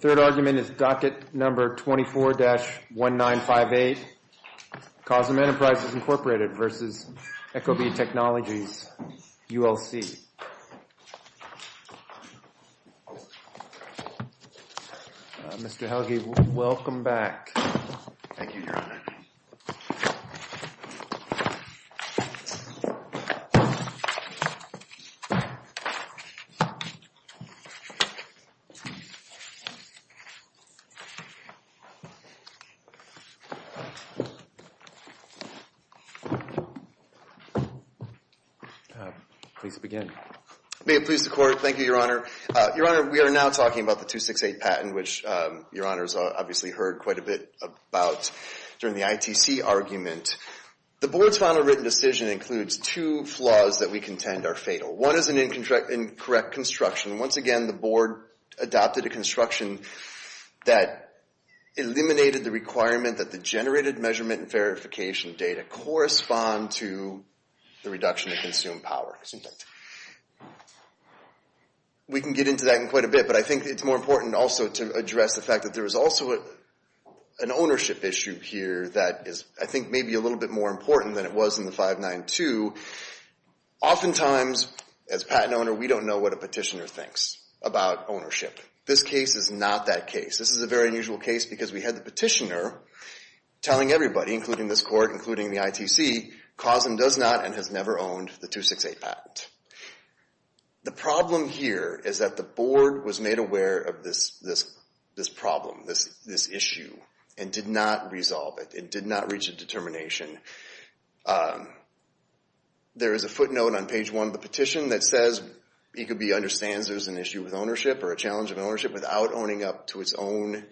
Third argument is docket number 24-1958, Causam Enterprises, Inc. v. ecobee Technologies ULC. Mr. Helge, welcome back. Thank you, Your Honor. Please begin. May it please the Court. Thank you, Your Honor. Your Honor, we are now talking about the 268 patent, which Your Honor has obviously heard quite a bit about during the ITC argument. The Board's final written decision includes two flaws that we contend are fatal. One is an incorrect construction. Once again, the Board adopted a construction that eliminated the requirement that the generated measurement and verification data correspond to the reduction of consumed power. We can get into that in quite a bit, but I think it's more important also to address the fact that there is also an ownership issue here that is, I think, maybe a little bit more important than it was in the 592. Oftentimes, as a patent owner, we don't know what a petitioner thinks about ownership. This case is not that case. This is a very unusual case because we had the petitioner telling everybody, including this Court, including the ITC, Causam does not and has never owned the 268 patent. The problem here is that the Board was made aware of this problem, this issue, and did not resolve it. It did not reach a determination. There is a footnote on page one of the petition that says ECOB understands there's an issue with ownership or a challenge of ownership without owning up to its own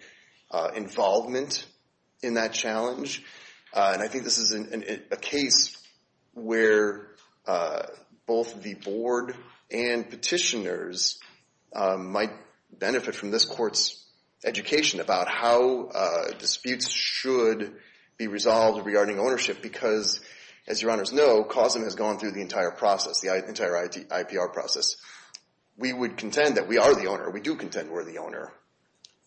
involvement in that challenge. I think this is a case where both the Board and petitioners might benefit from this Court's education about how disputes should be resolved regarding ownership. Because, as your Honors know, Causam has gone through the entire process, the entire IPR process. We would contend that we are the owner. We do contend we're the owner.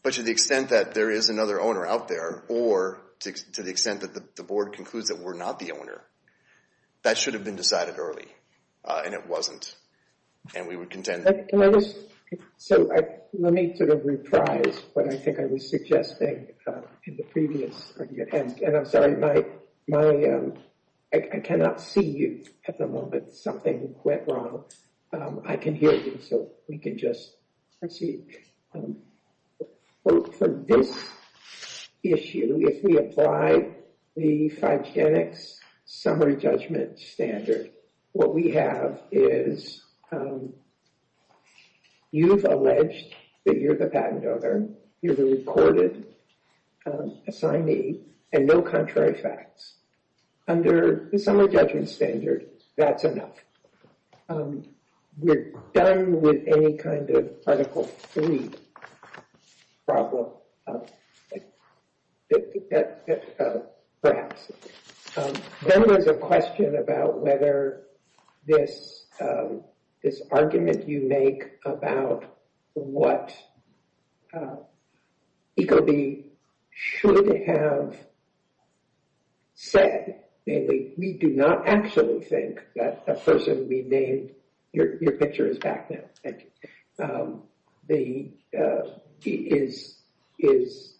But to the extent that there is another owner out there, or to the extent that the Board concludes that we're not the owner, that should have been decided early. And it wasn't. And we would contend— So let me sort of reprise what I think I was suggesting in the previous— And I'm sorry, I cannot see you at the moment. Something went wrong. I can hear you, so we can just proceed. For this issue, if we apply the Five Genics summary judgment standard, what we have is you've alleged that you're the patent owner, you're the recorded assignee, and no contrary facts. Under the summary judgment standard, that's enough. We're done with any kind of Article III problem, perhaps. There was a question about whether this argument you make about what ECOB should have said. We do not actually think that a person would be named— Your picture is back now, thank you. It is—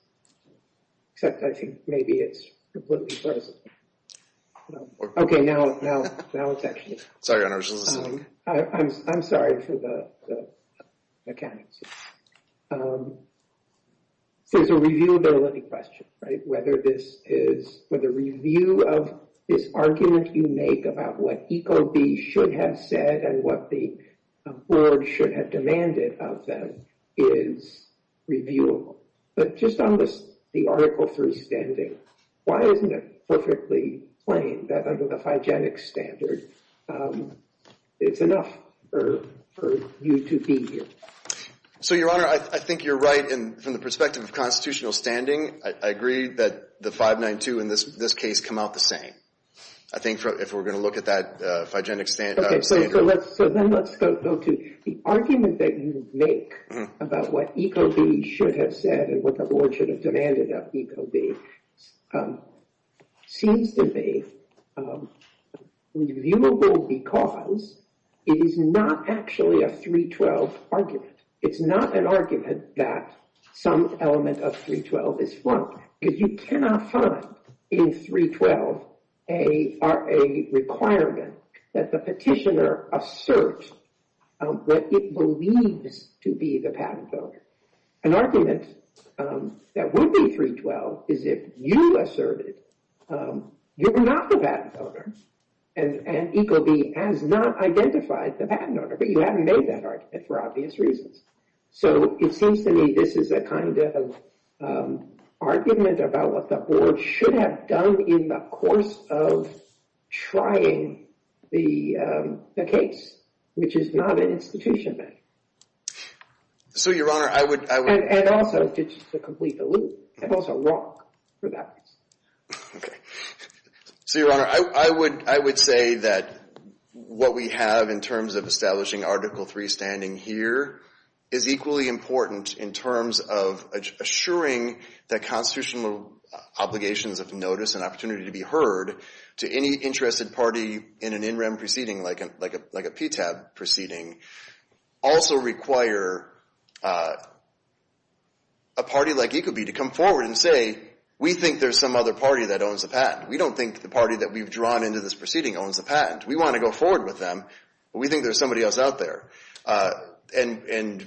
Except I think maybe it's completely frozen. Okay, now it's actually— Sorry, I wasn't listening. I'm sorry for the mechanics. So it's a reviewability question, right? Whether this is— Whether review of this argument you make about what ECOB should have said and what the board should have demanded of them is reviewable. But just on the Article III standing, why isn't it perfectly plain that under the Five Genics standard, it's enough for you to be here? So, Your Honor, I think you're right. And from the perspective of constitutional standing, I agree that the 592 in this case come out the same. I think if we're going to look at that Five Genics standard— So then let's go to the argument that you make about what ECOB should have said and what the board should have demanded of ECOB seems to be reviewable because it is not actually a 312 argument. It's not an argument that some element of 312 is wrong because you cannot find in 312 a requirement that the petitioner assert what it believes to be the patent owner. An argument that would be 312 is if you asserted you're not the patent owner and ECOB has not identified the patent owner, but you haven't made that argument for obvious reasons. So it seems to me this is a kind of argument about what the board should have done in the course of trying the case, which is not an institution matter. So, Your Honor, I would— And also just to complete the loop and also walk through that piece. Okay. So, Your Honor, I would say that what we have in terms of establishing Article III standing here is equally important in terms of assuring that constitutional obligations of notice and opportunity to be heard to any interested party in an in-rem proceeding like a PTAB proceeding. Also require a party like ECOB to come forward and say, we think there's some other party that owns the patent. We don't think the party that we've drawn into this proceeding owns the patent. We want to go forward with them, but we think there's somebody else out there. And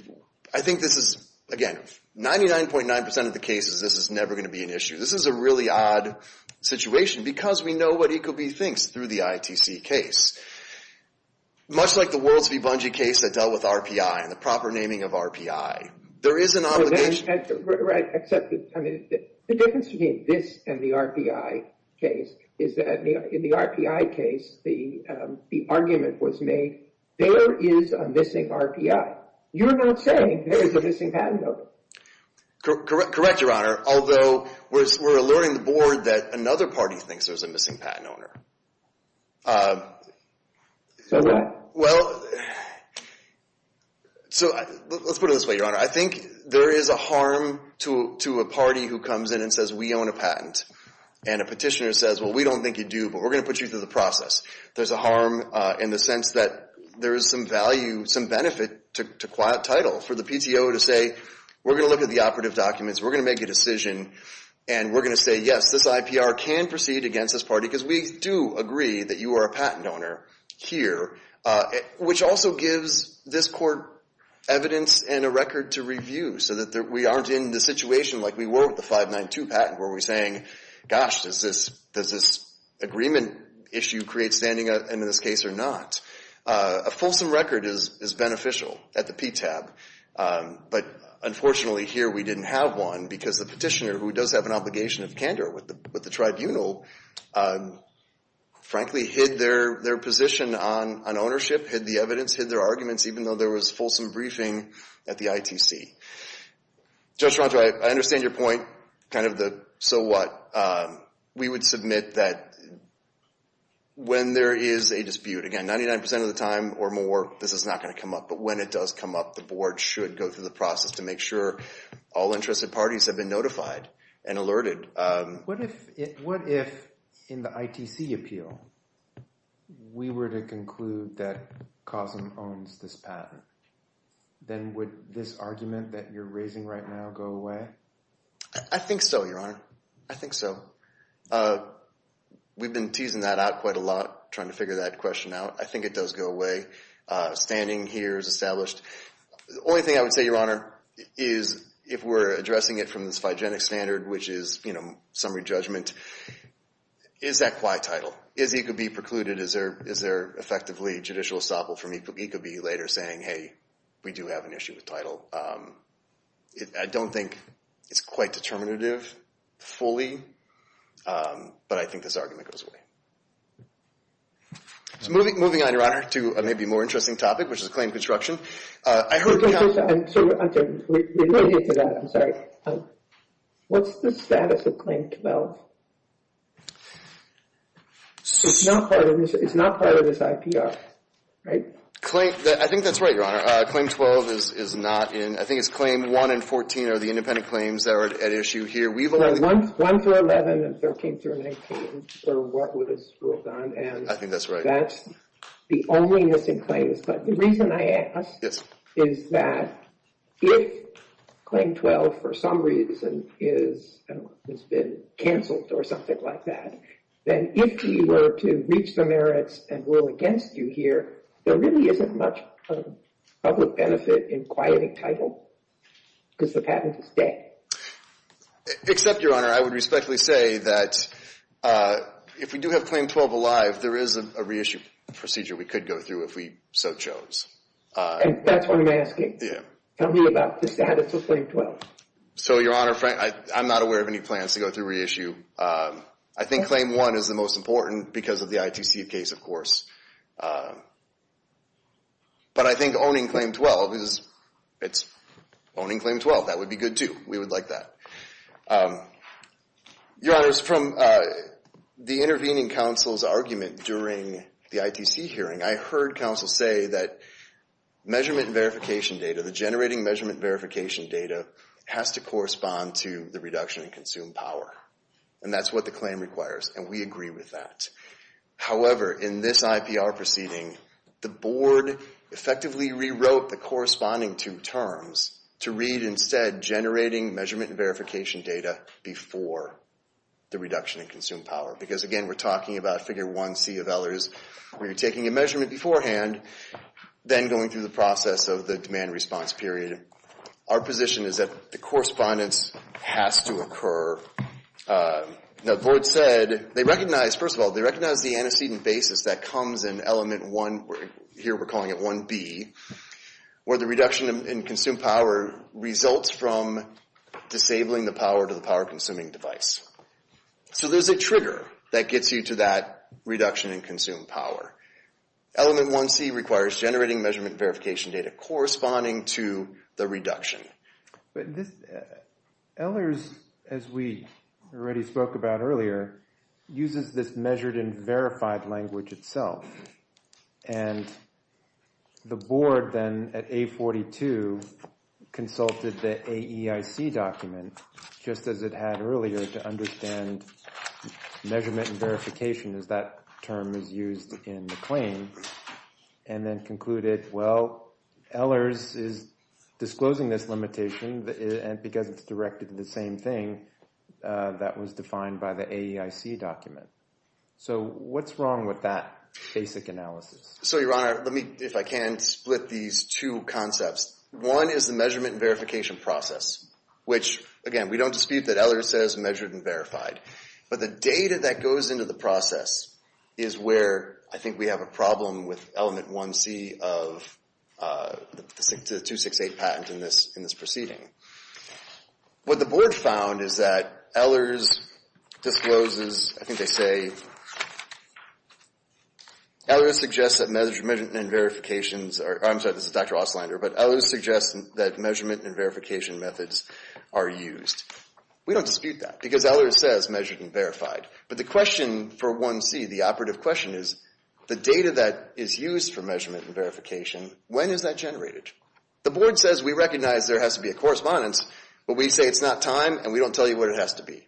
I think this is, again, 99.9% of the cases this is never going to be an issue. This is a really odd situation because we know what ECOB thinks through the ITC case. Much like the Worlds v. Bungie case that dealt with RPI and the proper naming of RPI, there is an obligation— Right, except the difference between this and the RPI case is that in the RPI case, the argument was made, there is a missing RPI. You're not saying there's a missing patent owner. Correct, Your Honor, although we're alerting the board that another party thinks there's a missing patent owner. Well, let's put it this way, Your Honor. I think there is a harm to a party who comes in and says, we own a patent. And a petitioner says, well, we don't think you do, but we're going to put you through the process. There's a harm in the sense that there is some value, some benefit to quiet title for the PTO to say, we're going to look at the operative documents, we're going to make a decision, and we're going to say, yes, this IPR can proceed against this party because we do agree that you are a patent owner here, which also gives this court evidence and a record to review so that we aren't in the situation like we were with the 592 patent where we're saying, gosh, does this agreement issue create standing in this case or not? A fulsome record is beneficial at the PTAB. But unfortunately here we didn't have one because the petitioner, who does have an obligation of candor with the tribunal, frankly hid their position on ownership, hid the evidence, hid their arguments, even though there was fulsome briefing at the ITC. Judge Rontra, I understand your point, kind of the so what. We would submit that when there is a dispute, again, 99% of the time or more, this is not going to come up. But when it does come up, the board should go through the process to make sure all interested parties have been notified and alerted. What if in the ITC appeal we were to conclude that COSM owns this patent? Then would this argument that you're raising right now go away? I think so, Your Honor. I think so. We've been teasing that out quite a lot, trying to figure that question out. I think it does go away. Standing here is established. The only thing I would say, Your Honor, is if we're addressing it from this phygenic standard, which is summary judgment, is that quite title? Is it going to be precluded? Is there effectively judicial estoppel from ECOB later saying, hey, we do have an issue with title? I don't think it's quite determinative fully, but I think this argument goes away. Moving on, Your Honor, to a maybe more interesting topic, which is claim construction. I'm sorry. What's the status of Claim 12? It's not part of this IPR, right? I think that's right, Your Honor. Claim 12 is not in. I think it's Claim 1 and 14 are the independent claims that are at issue here. 1 through 11 and 13 through 19 are what was ruled on. I think that's right. That's the only missing claim. But the reason I ask is that if Claim 12, for some reason, has been canceled or something like that, then if you were to reach the merits and rule against you here, there really isn't much public benefit in quieting title because the patent is dead. Except, Your Honor, I would respectfully say that if we do have Claim 12 alive, there is a reissue procedure we could go through if we so chose. And that's what I'm asking. Tell me about the status of Claim 12. So, Your Honor, I'm not aware of any plans to go through reissue. I think Claim 1 is the most important because of the ITC case, of course. But I think owning Claim 12, it's owning Claim 12. That would be good, too. We would like that. Your Honor, from the intervening counsel's argument during the ITC hearing, I heard counsel say that measurement verification data, the generating measurement verification data, has to correspond to the reduction in consumed power. And that's what the claim requires. And we agree with that. However, in this IPR proceeding, the board effectively rewrote the corresponding two terms to read, instead, generating measurement verification data before the reduction in consumed power. Because, again, we're talking about Figure 1C of Eller's, where you're taking a measurement beforehand, then going through the process of the demand response period. Our position is that the correspondence has to occur. Now, the board said they recognize, first of all, they recognize the antecedent basis that comes in Element 1, here we're calling it 1B, where the reduction in consumed power results from disabling the power to the power-consuming device. So there's a trigger that gets you to that reduction in consumed power. Element 1C requires generating measurement verification data corresponding to the reduction. But this – Eller's, as we already spoke about earlier, uses this measured and verified language itself. And the board then, at A42, consulted the AEIC document, just as it had earlier, to understand measurement and verification, as that term is used in the claim. And then concluded, well, Eller's is disclosing this limitation, and because it's directed to the same thing, that was defined by the AEIC document. So what's wrong with that basic analysis? So, Your Honor, let me, if I can, split these two concepts. One is the measurement and verification process, which, again, we don't dispute that Eller's says measured and verified. But the data that goes into the process is where I think we have a problem with Element 1C of the 268 patent in this proceeding. What the board found is that Eller's discloses, I think they say, Eller's suggests that measurement and verifications are – I'm sorry, this is Dr. Ostlander – but Eller's suggests that measurement and verification methods are used. We don't dispute that, because Eller's says measured and verified. But the question for 1C, the operative question, is the data that is used for measurement and verification, when is that generated? The board says we recognize there has to be a correspondence, but we say it's not time, and we don't tell you what it has to be.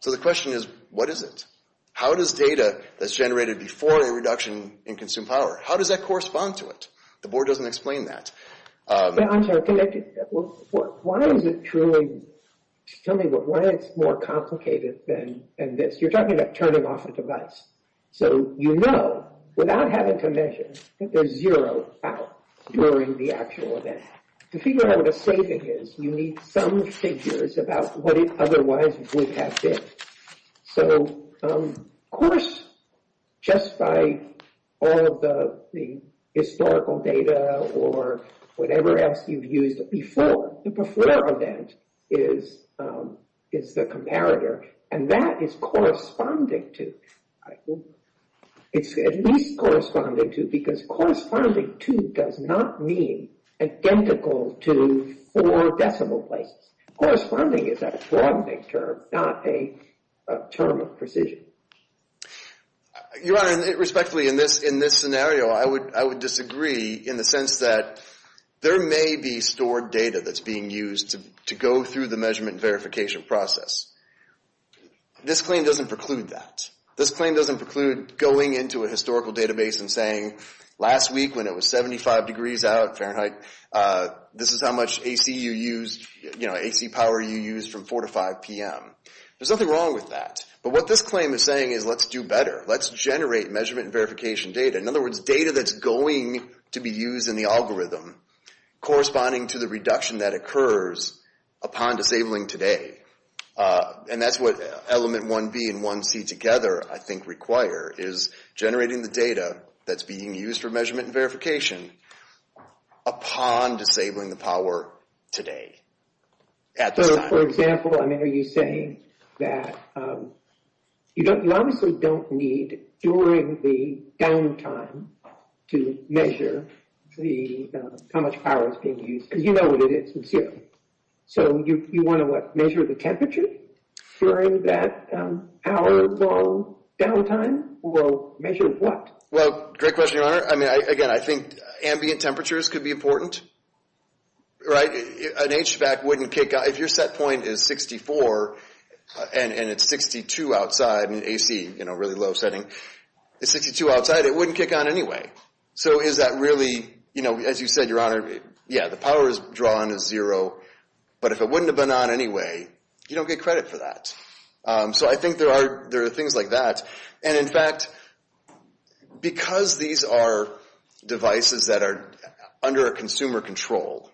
So the question is, what is it? How does data that's generated before a reduction in consumed power, how does that correspond to it? The board doesn't explain that. I'm sorry, can I – why is it truly – tell me why it's more complicated than this? You're talking about turning off a device. So you know, without having to measure, that there's zero out during the actual event. To figure out what a saving is, you need some figures about what it otherwise would have been. So of course, just by all of the historical data or whatever else you've used before, the before event is the comparator, and that is corresponding to – it's at least corresponding to, because corresponding to does not mean identical to four decimal places. Corresponding is a coordinate term, not a term of precision. Your Honor, respectfully, in this scenario, I would disagree in the sense that there may be stored data that's being used to go through the measurement verification process. This claim doesn't preclude that. This claim doesn't preclude going into a historical database and saying, last week when it was 75 degrees out, Fahrenheit, this is how much AC you used, you know, AC power you used from 4 to 5 p.m. There's nothing wrong with that. But what this claim is saying is let's do better. Let's generate measurement and verification data. In other words, data that's going to be used in the algorithm, corresponding to the reduction that occurs upon disabling today. And that's what element 1B and 1C together, I think, require, is generating the data that's being used for measurement and verification upon disabling the power today, at the time. So, for example, I mean, are you saying that you obviously don't need, during the downtime, to measure how much power is being used? Because you know what it is, it's zero. So you want to measure the temperature during that hour-long downtime? Well, measure what? Well, great question, Your Honor. I mean, again, I think ambient temperatures could be important, right? An HVAC wouldn't kick on. If your set point is 64 and it's 62 outside, and AC, you know, really low setting, it's 62 outside, it wouldn't kick on anyway. So is that really, you know, as you said, Your Honor, yeah, the power drawn is zero, but if it wouldn't have been on anyway, you don't get credit for that. So I think there are things like that. And, in fact, because these are devices that are under a consumer control,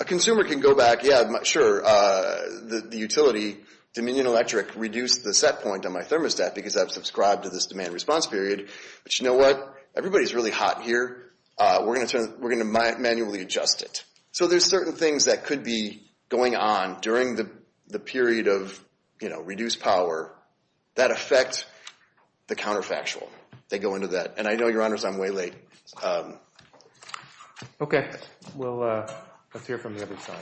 a consumer can go back, yeah, sure, the utility, Dominion Electric, reduced the set point on my thermostat because I've subscribed to this demand response period. But you know what? Everybody's really hot here. We're going to manually adjust it. So there's certain things that could be going on during the period of, you know, reduced power that affect the counterfactual. They go into that. And I know, Your Honors, I'm way late. Okay. Well, let's hear from the other side.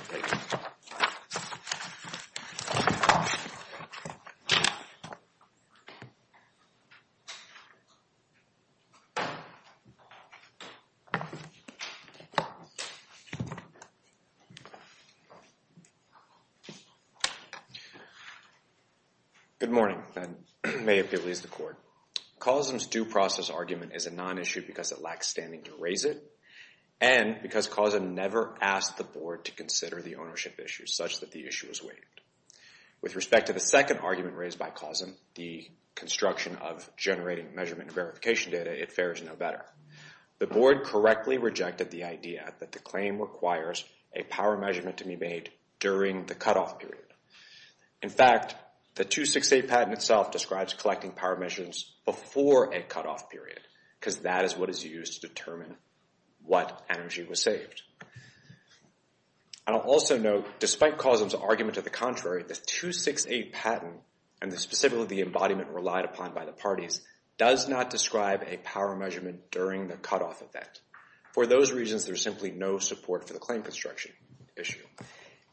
Good morning. May it please the Court. CAUSM's due process argument is a non-issue because it lacks standing to raise it and because CAUSM never asked the Board to consider the ownership issue, such that the issue was waived. With respect to the second argument raised by CAUSM, the construction of generating measurement and verification data, it fares no better. The Board correctly rejected the idea that the claim requires a power measurement to be made during the cutoff period. In fact, the 268 patent itself describes collecting power measurements before a cutoff period because that is what is used to determine what energy was saved. And I'll also note, despite CAUSM's argument to the contrary, the 268 patent and specifically the embodiment relied upon by the parties, does not describe a power measurement during the cutoff event. For those reasons, there's simply no support for the claim construction issue.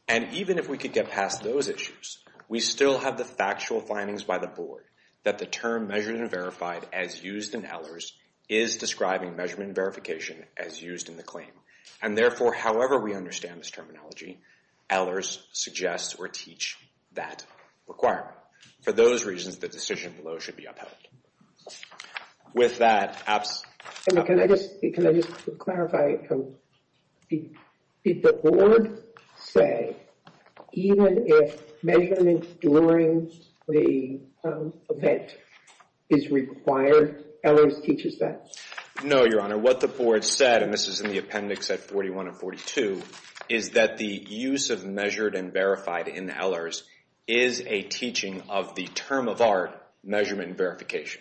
And even if we could get past those issues, we still have the factual findings by the Board that the term measured and verified as used in Ehlers is describing measurement and verification as used in the claim. And therefore, however we understand this terminology, Ehlers suggests or teach that requirement. For those reasons, the decision below should be upheld. With that, perhaps... Can I just clarify, did the Board say even if measurement during the event is required, Ehlers teaches that? No, Your Honor. What the Board said, and this is in the appendix at 41 and 42, is that the use of measured and verified in Ehlers is a teaching of the term of art measurement and verification.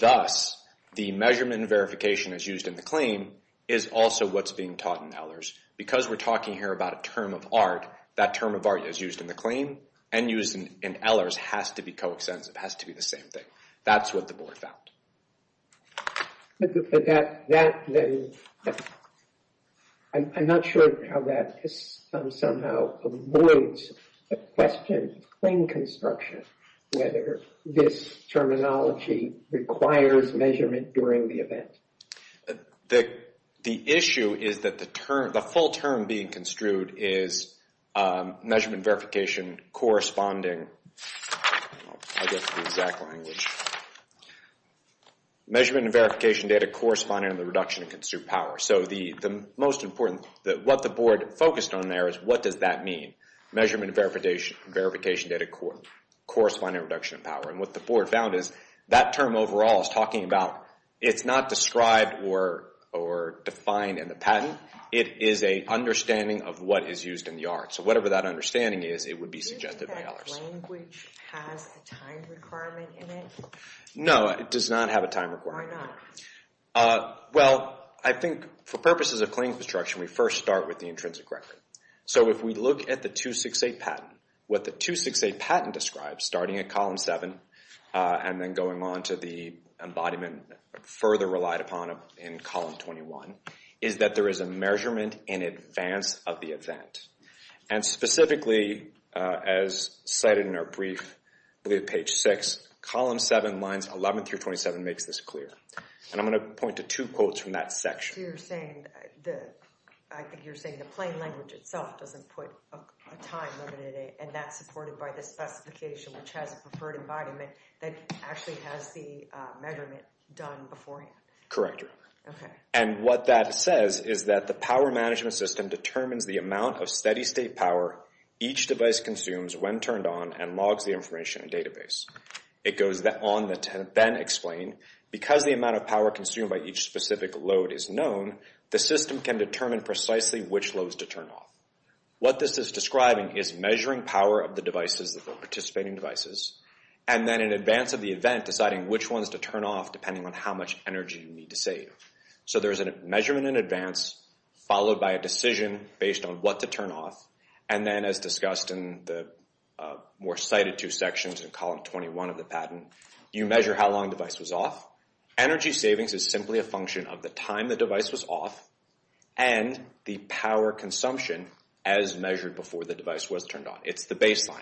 Thus, the measurement and verification as used in the claim is also what's being taught in Ehlers. Because we're talking here about a term of art, that term of art is used in the claim and used in Ehlers has to be co-extensive, has to be the same thing. That's what the Board found. I'm not sure how that somehow avoids the question of claim construction, whether this terminology requires measurement during the event. The issue is that the term, the full term being construed is measurement verification corresponding, I guess the exact language, measurement and verification data corresponding to the reduction in construed power. So the most important, what the Board focused on there is what does that mean? Measurement and verification data corresponding to reduction in power. And what the Board found is that term overall is talking about, it's not described or defined in the patent. It is an understanding of what is used in the art. So whatever that understanding is, it would be suggested in Ehlers. Do you think that language has a time requirement in it? No, it does not have a time requirement. Why not? Well, I think for purposes of claim construction, we first start with the intrinsic record. So if we look at the 268 patent, what the 268 patent describes, starting at column 7 and then going on to the embodiment further relied upon in column 21, is that there is a measurement in advance of the event. And specifically, as cited in our brief, page 6, column 7, lines 11 through 27 makes this clear. And I'm going to point to two quotes from that section. I see you're saying, I think you're saying the plain language itself doesn't put a time limit in it and that's supported by the specification which has a preferred embodiment that actually has the measurement done beforehand. Correct. Okay. And what that says is that the power management system determines the amount of steady state power each device consumes when turned on and logs the information in a database. It goes on to then explain, because the amount of power consumed by each specific load is known, the system can determine precisely which loads to turn off. What this is describing is measuring power of the devices, the participating devices, and then in advance of the event deciding which ones to turn off depending on how much energy you need to save. So there's a measurement in advance followed by a decision based on what to turn off, and then as discussed in the more cited two sections in column 21 of the patent, you measure how long the device was off. Energy savings is simply a function of the time the device was off and the power consumption as measured before the device was turned on. It's the baseline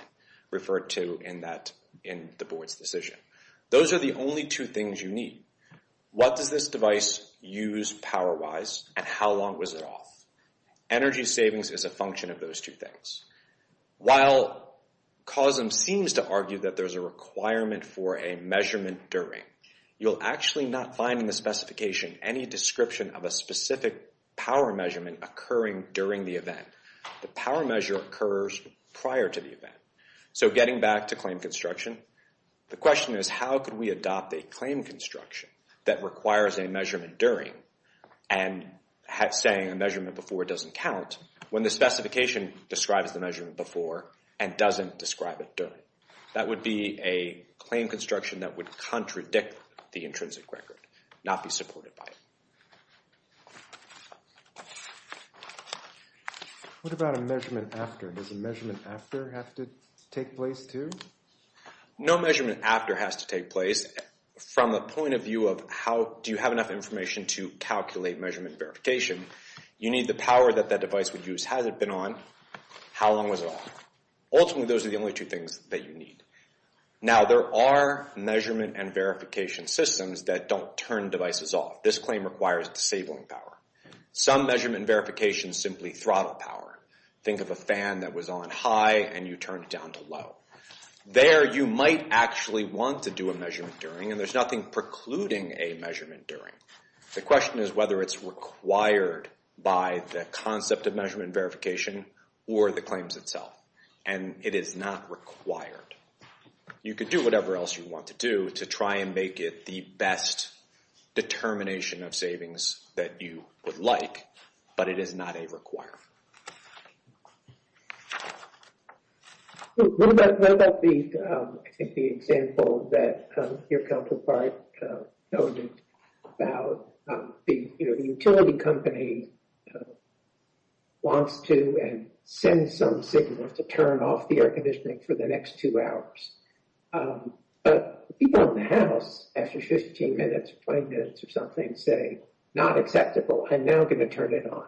referred to in the board's decision. Those are the only two things you need. What does this device use power-wise and how long was it off? Energy savings is a function of those two things. While COSM seems to argue that there's a requirement for a measurement during, you'll actually not find in the specification any description of a specific power measurement occurring during the event. The power measure occurs prior to the event. So getting back to claim construction, the question is how can we adopt a claim construction that requires a measurement during and saying a measurement before doesn't count when the specification describes the measurement before and doesn't describe it during. That would be a claim construction that would contradict the intrinsic record, not be supported by it. What about a measurement after? Does a measurement after have to take place too? No measurement after has to take place. From a point of view of how do you have enough information to calculate measurement verification, you need the power that that device would use had it been on, how long was it off. Ultimately, those are the only two things that you need. Now, there are measurement and verification systems that don't turn devices off. This claim requires disabling power. Some measurement and verification simply throttle power. Think of a fan that was on high and you turned it down to low. There you might actually want to do a measurement during, and there's nothing precluding a measurement during. The question is whether it's required by the concept of measurement verification or the claims itself, and it is not required. You could do whatever else you want to do to try and make it the best determination of savings that you would like, but it is not a requirement. What about the example that your counterpart noted about the utility company wants to and sends some signals to turn off the air conditioning for the next two hours. But people in the house, after 15 minutes, 20 minutes or something, say not acceptable. I'm now going to turn it on.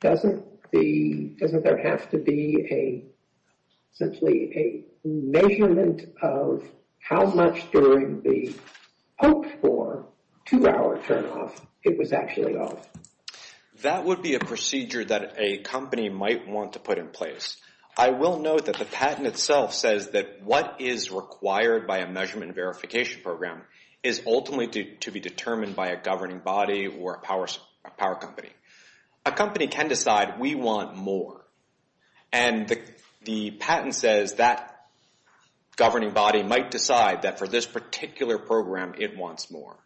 Doesn't there have to be simply a measurement of how much during the hoped-for two-hour turnoff it was actually off? That would be a procedure that a company might want to put in place. I will note that the patent itself says that what is required by a measurement verification program is ultimately to be determined by a governing body or a power company. A company can decide we want more, and the patent says that governing body might decide that for this particular program it wants more.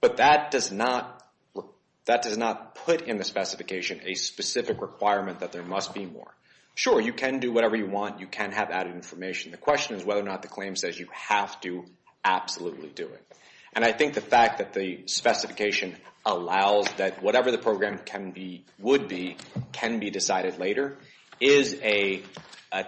But that does not put in the specification a specific requirement that there must be more. Sure, you can do whatever you want. You can have added information. The question is whether or not the claim says you have to absolutely do it. And I think the fact that the specification allows that whatever the program would be can be decided later is a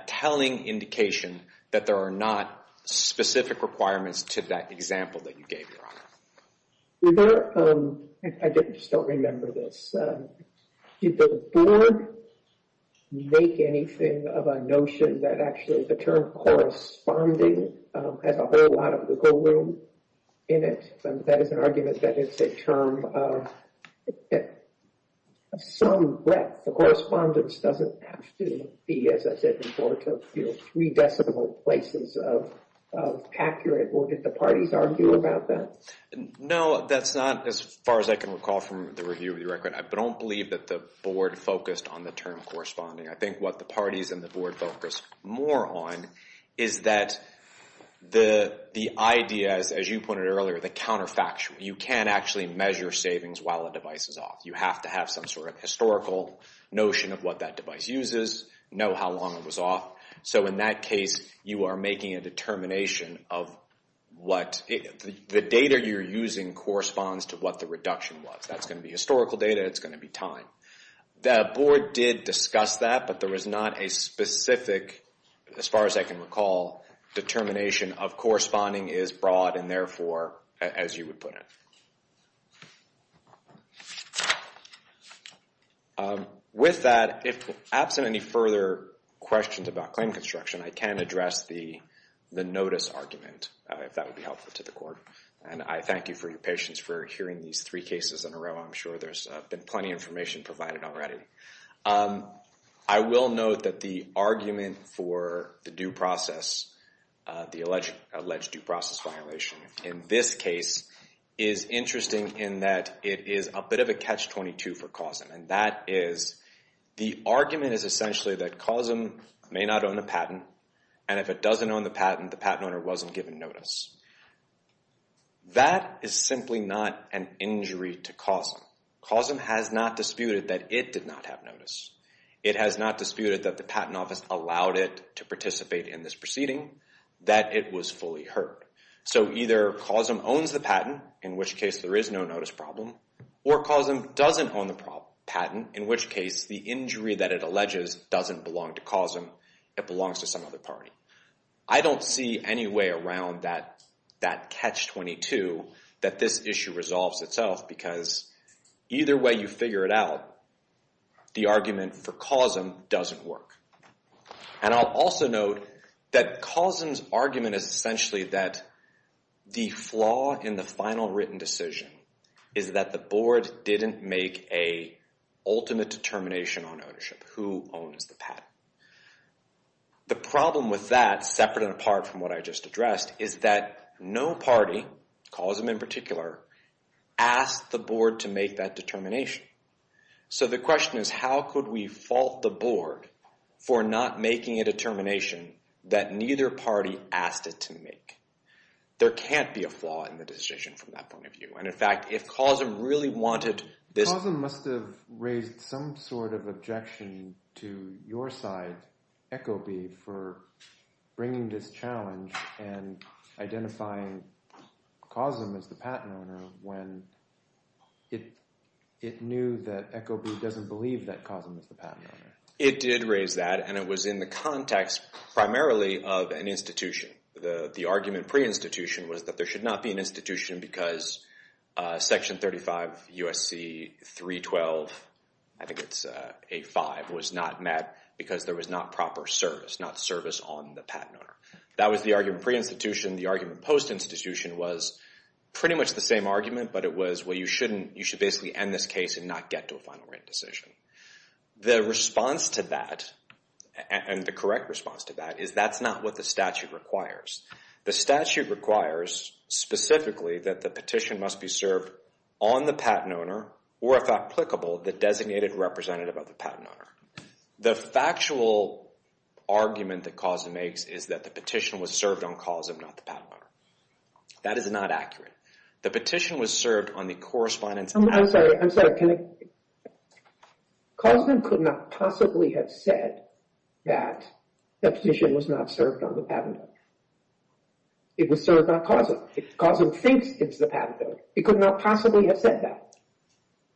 telling indication that there are not specific requirements to that example that you gave, Your Honor. I just don't remember this. Did the board make anything of a notion that actually the term corresponding has a whole lot of wiggle room in it? That is an argument that it's a term of some breadth. The correspondence doesn't have to be, as I said before, to three decimal places of accurate. Did the parties argue about that? No, that's not as far as I can recall from the review of the record. I don't believe that the board focused on the term corresponding. I think what the parties and the board focused more on is that the idea, as you pointed out earlier, the counterfactual. You can't actually measure savings while a device is off. You have to have some sort of historical notion of what that device uses, know how long it was off. So in that case, you are making a determination of what the data you're using corresponds to what the reduction was. That's going to be historical data. It's going to be time. The board did discuss that, but there was not a specific, as far as I can recall, determination of corresponding is broad and therefore, as you would put it. With that, if absent any further questions about claim construction, I can address the notice argument, if that would be helpful to the court. And I thank you for your patience for hearing these three cases in a row. I'm sure there's been plenty of information provided already. I will note that the argument for the due process, the alleged due process violation in this case, is interesting in that it is a bit of a catch-22 for COSM. And that is, the argument is essentially that COSM may not own the patent, and if it doesn't own the patent, the patent owner wasn't given notice. That is simply not an injury to COSM. COSM has not disputed that it did not have notice. It has not disputed that the patent office allowed it to participate in this proceeding, that it was fully heard. So either COSM owns the patent, in which case there is no notice problem, or COSM doesn't own the patent, in which case the injury that it alleges doesn't belong to COSM, it belongs to some other party. I don't see any way around that catch-22 that this issue resolves itself, because either way you figure it out, the argument for COSM doesn't work. And I'll also note that COSM's argument is essentially that the flaw in the final written decision is that the board didn't make a ultimate determination on ownership, who owns the patent. The problem with that, separate and apart from what I just addressed, is that no party, COSM in particular, asked the board to make that determination. So the question is, how could we fault the board for not making a determination that neither party asked it to make? There can't be a flaw in the decision from that point of view. And in fact, if COSM really wanted this... COSM must have raised some sort of objection to your side, ECOB, for bringing this challenge and identifying COSM as the patent owner, when it knew that ECOB doesn't believe that COSM is the patent owner. It did raise that, and it was in the context primarily of an institution. The argument pre-institution was that there should not be an institution because Section 35 U.S.C. 312, I think it's A5, was not met, because there was not proper service, not service on the patent owner. That was the argument pre-institution. The argument post-institution was pretty much the same argument, but it was, well, you should basically end this case and not get to a final written decision. The response to that, and the correct response to that, is that's not what the statute requires. The statute requires specifically that the petition must be served on the patent owner or, if applicable, the designated representative of the patent owner. The factual argument that COSM makes is that the petition was served on COSM, not the patent owner. That is not accurate. The petition was served on the correspondence— I'm sorry, I'm sorry. COSM could not possibly have said that the petition was not served on the patent owner. It was served on COSM. COSM thinks it's the patent owner. It could not possibly have said that.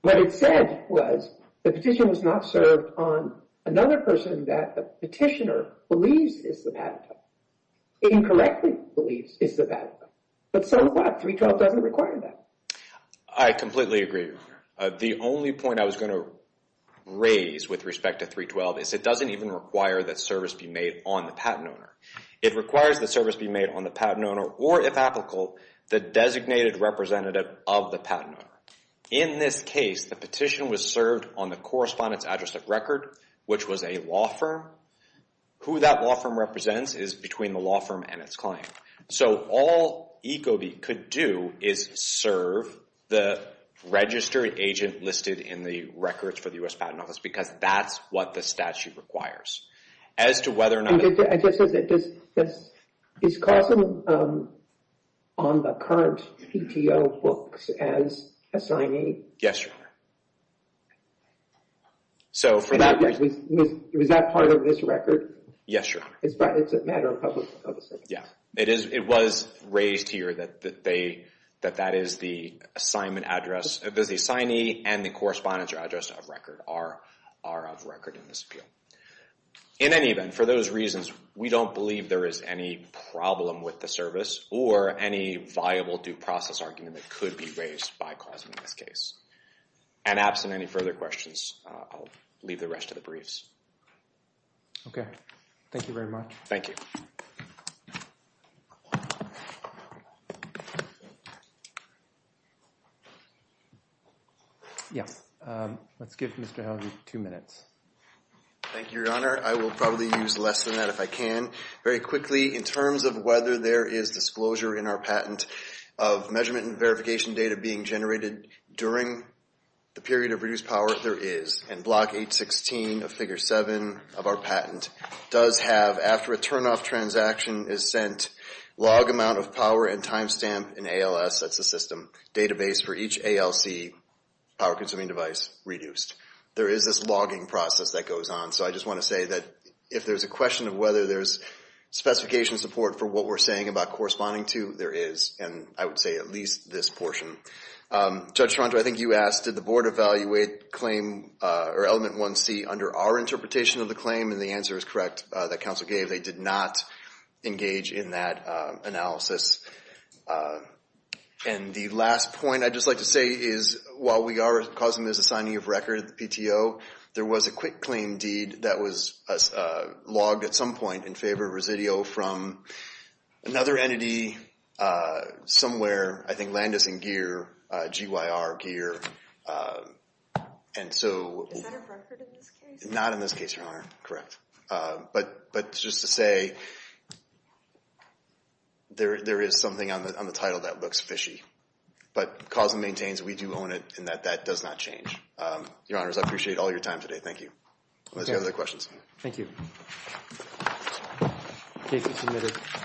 What it said was the petition was not served on another person that the petitioner believes is the patent owner, incorrectly believes is the patent owner. But so what? 312 doesn't require that. I completely agree. The only point I was going to raise with respect to 312 is it doesn't even require that service be made on the patent owner. It requires that service be made on the patent owner or, if applicable, the designated representative of the patent owner. In this case, the petition was served on the correspondence address of record, which was a law firm. Who that law firm represents is between the law firm and its client. So all ECOB could do is serve the registered agent listed in the records for the U.S. Patent Office because that's what the statute requires. As to whether or not— Is COSM on the current PTO books as assignee? Yes, Your Honor. Was that part of this record? Yes, Your Honor. It's a matter of public policy? Yeah. It was raised here that that is the assignment address. The assignee and the correspondence address of record are of record in this appeal. In any event, for those reasons, we don't believe there is any problem with the service or any viable due process argument that could be raised by COSM in this case. And absent any further questions, I'll leave the rest of the briefs. Okay. Thank you very much. Thank you. Yes. Let's give Mr. Howley two minutes. Thank you, Your Honor. I will probably use less than that if I can. Very quickly, in terms of whether there is disclosure in our patent of measurement and verification data being generated during the period of reduced power, there is. And Block 816 of Figure 7 of our patent does have, after a turnoff transaction is sent, log amount of power and timestamp in ALS, that's the system, database for each ALC, power-consuming device, reduced. There is this logging process that goes on. So I just want to say that if there's a question of whether there's specification support for what we're saying about corresponding to, there is, and I would say at least this portion. Judge Toronto, I think you asked, did the Board evaluate claim or Element 1C under our interpretation of the claim? And the answer is correct that counsel gave. They did not engage in that analysis. And the last point I'd just like to say is while we are causing this assigning of record at the PTO, there was a quick claim deed that was logged at some point in favor of residio from another entity somewhere, I think Landis and Gear, GYR Gear. Is that a record in this case? Not in this case, Your Honor. Correct. But just to say there is something on the title that looks fishy. But cause and maintains, we do own it in that that does not change. Your Honors, I appreciate all your time today. Thank you. Let's go to the questions. Thank you. Case is submitted.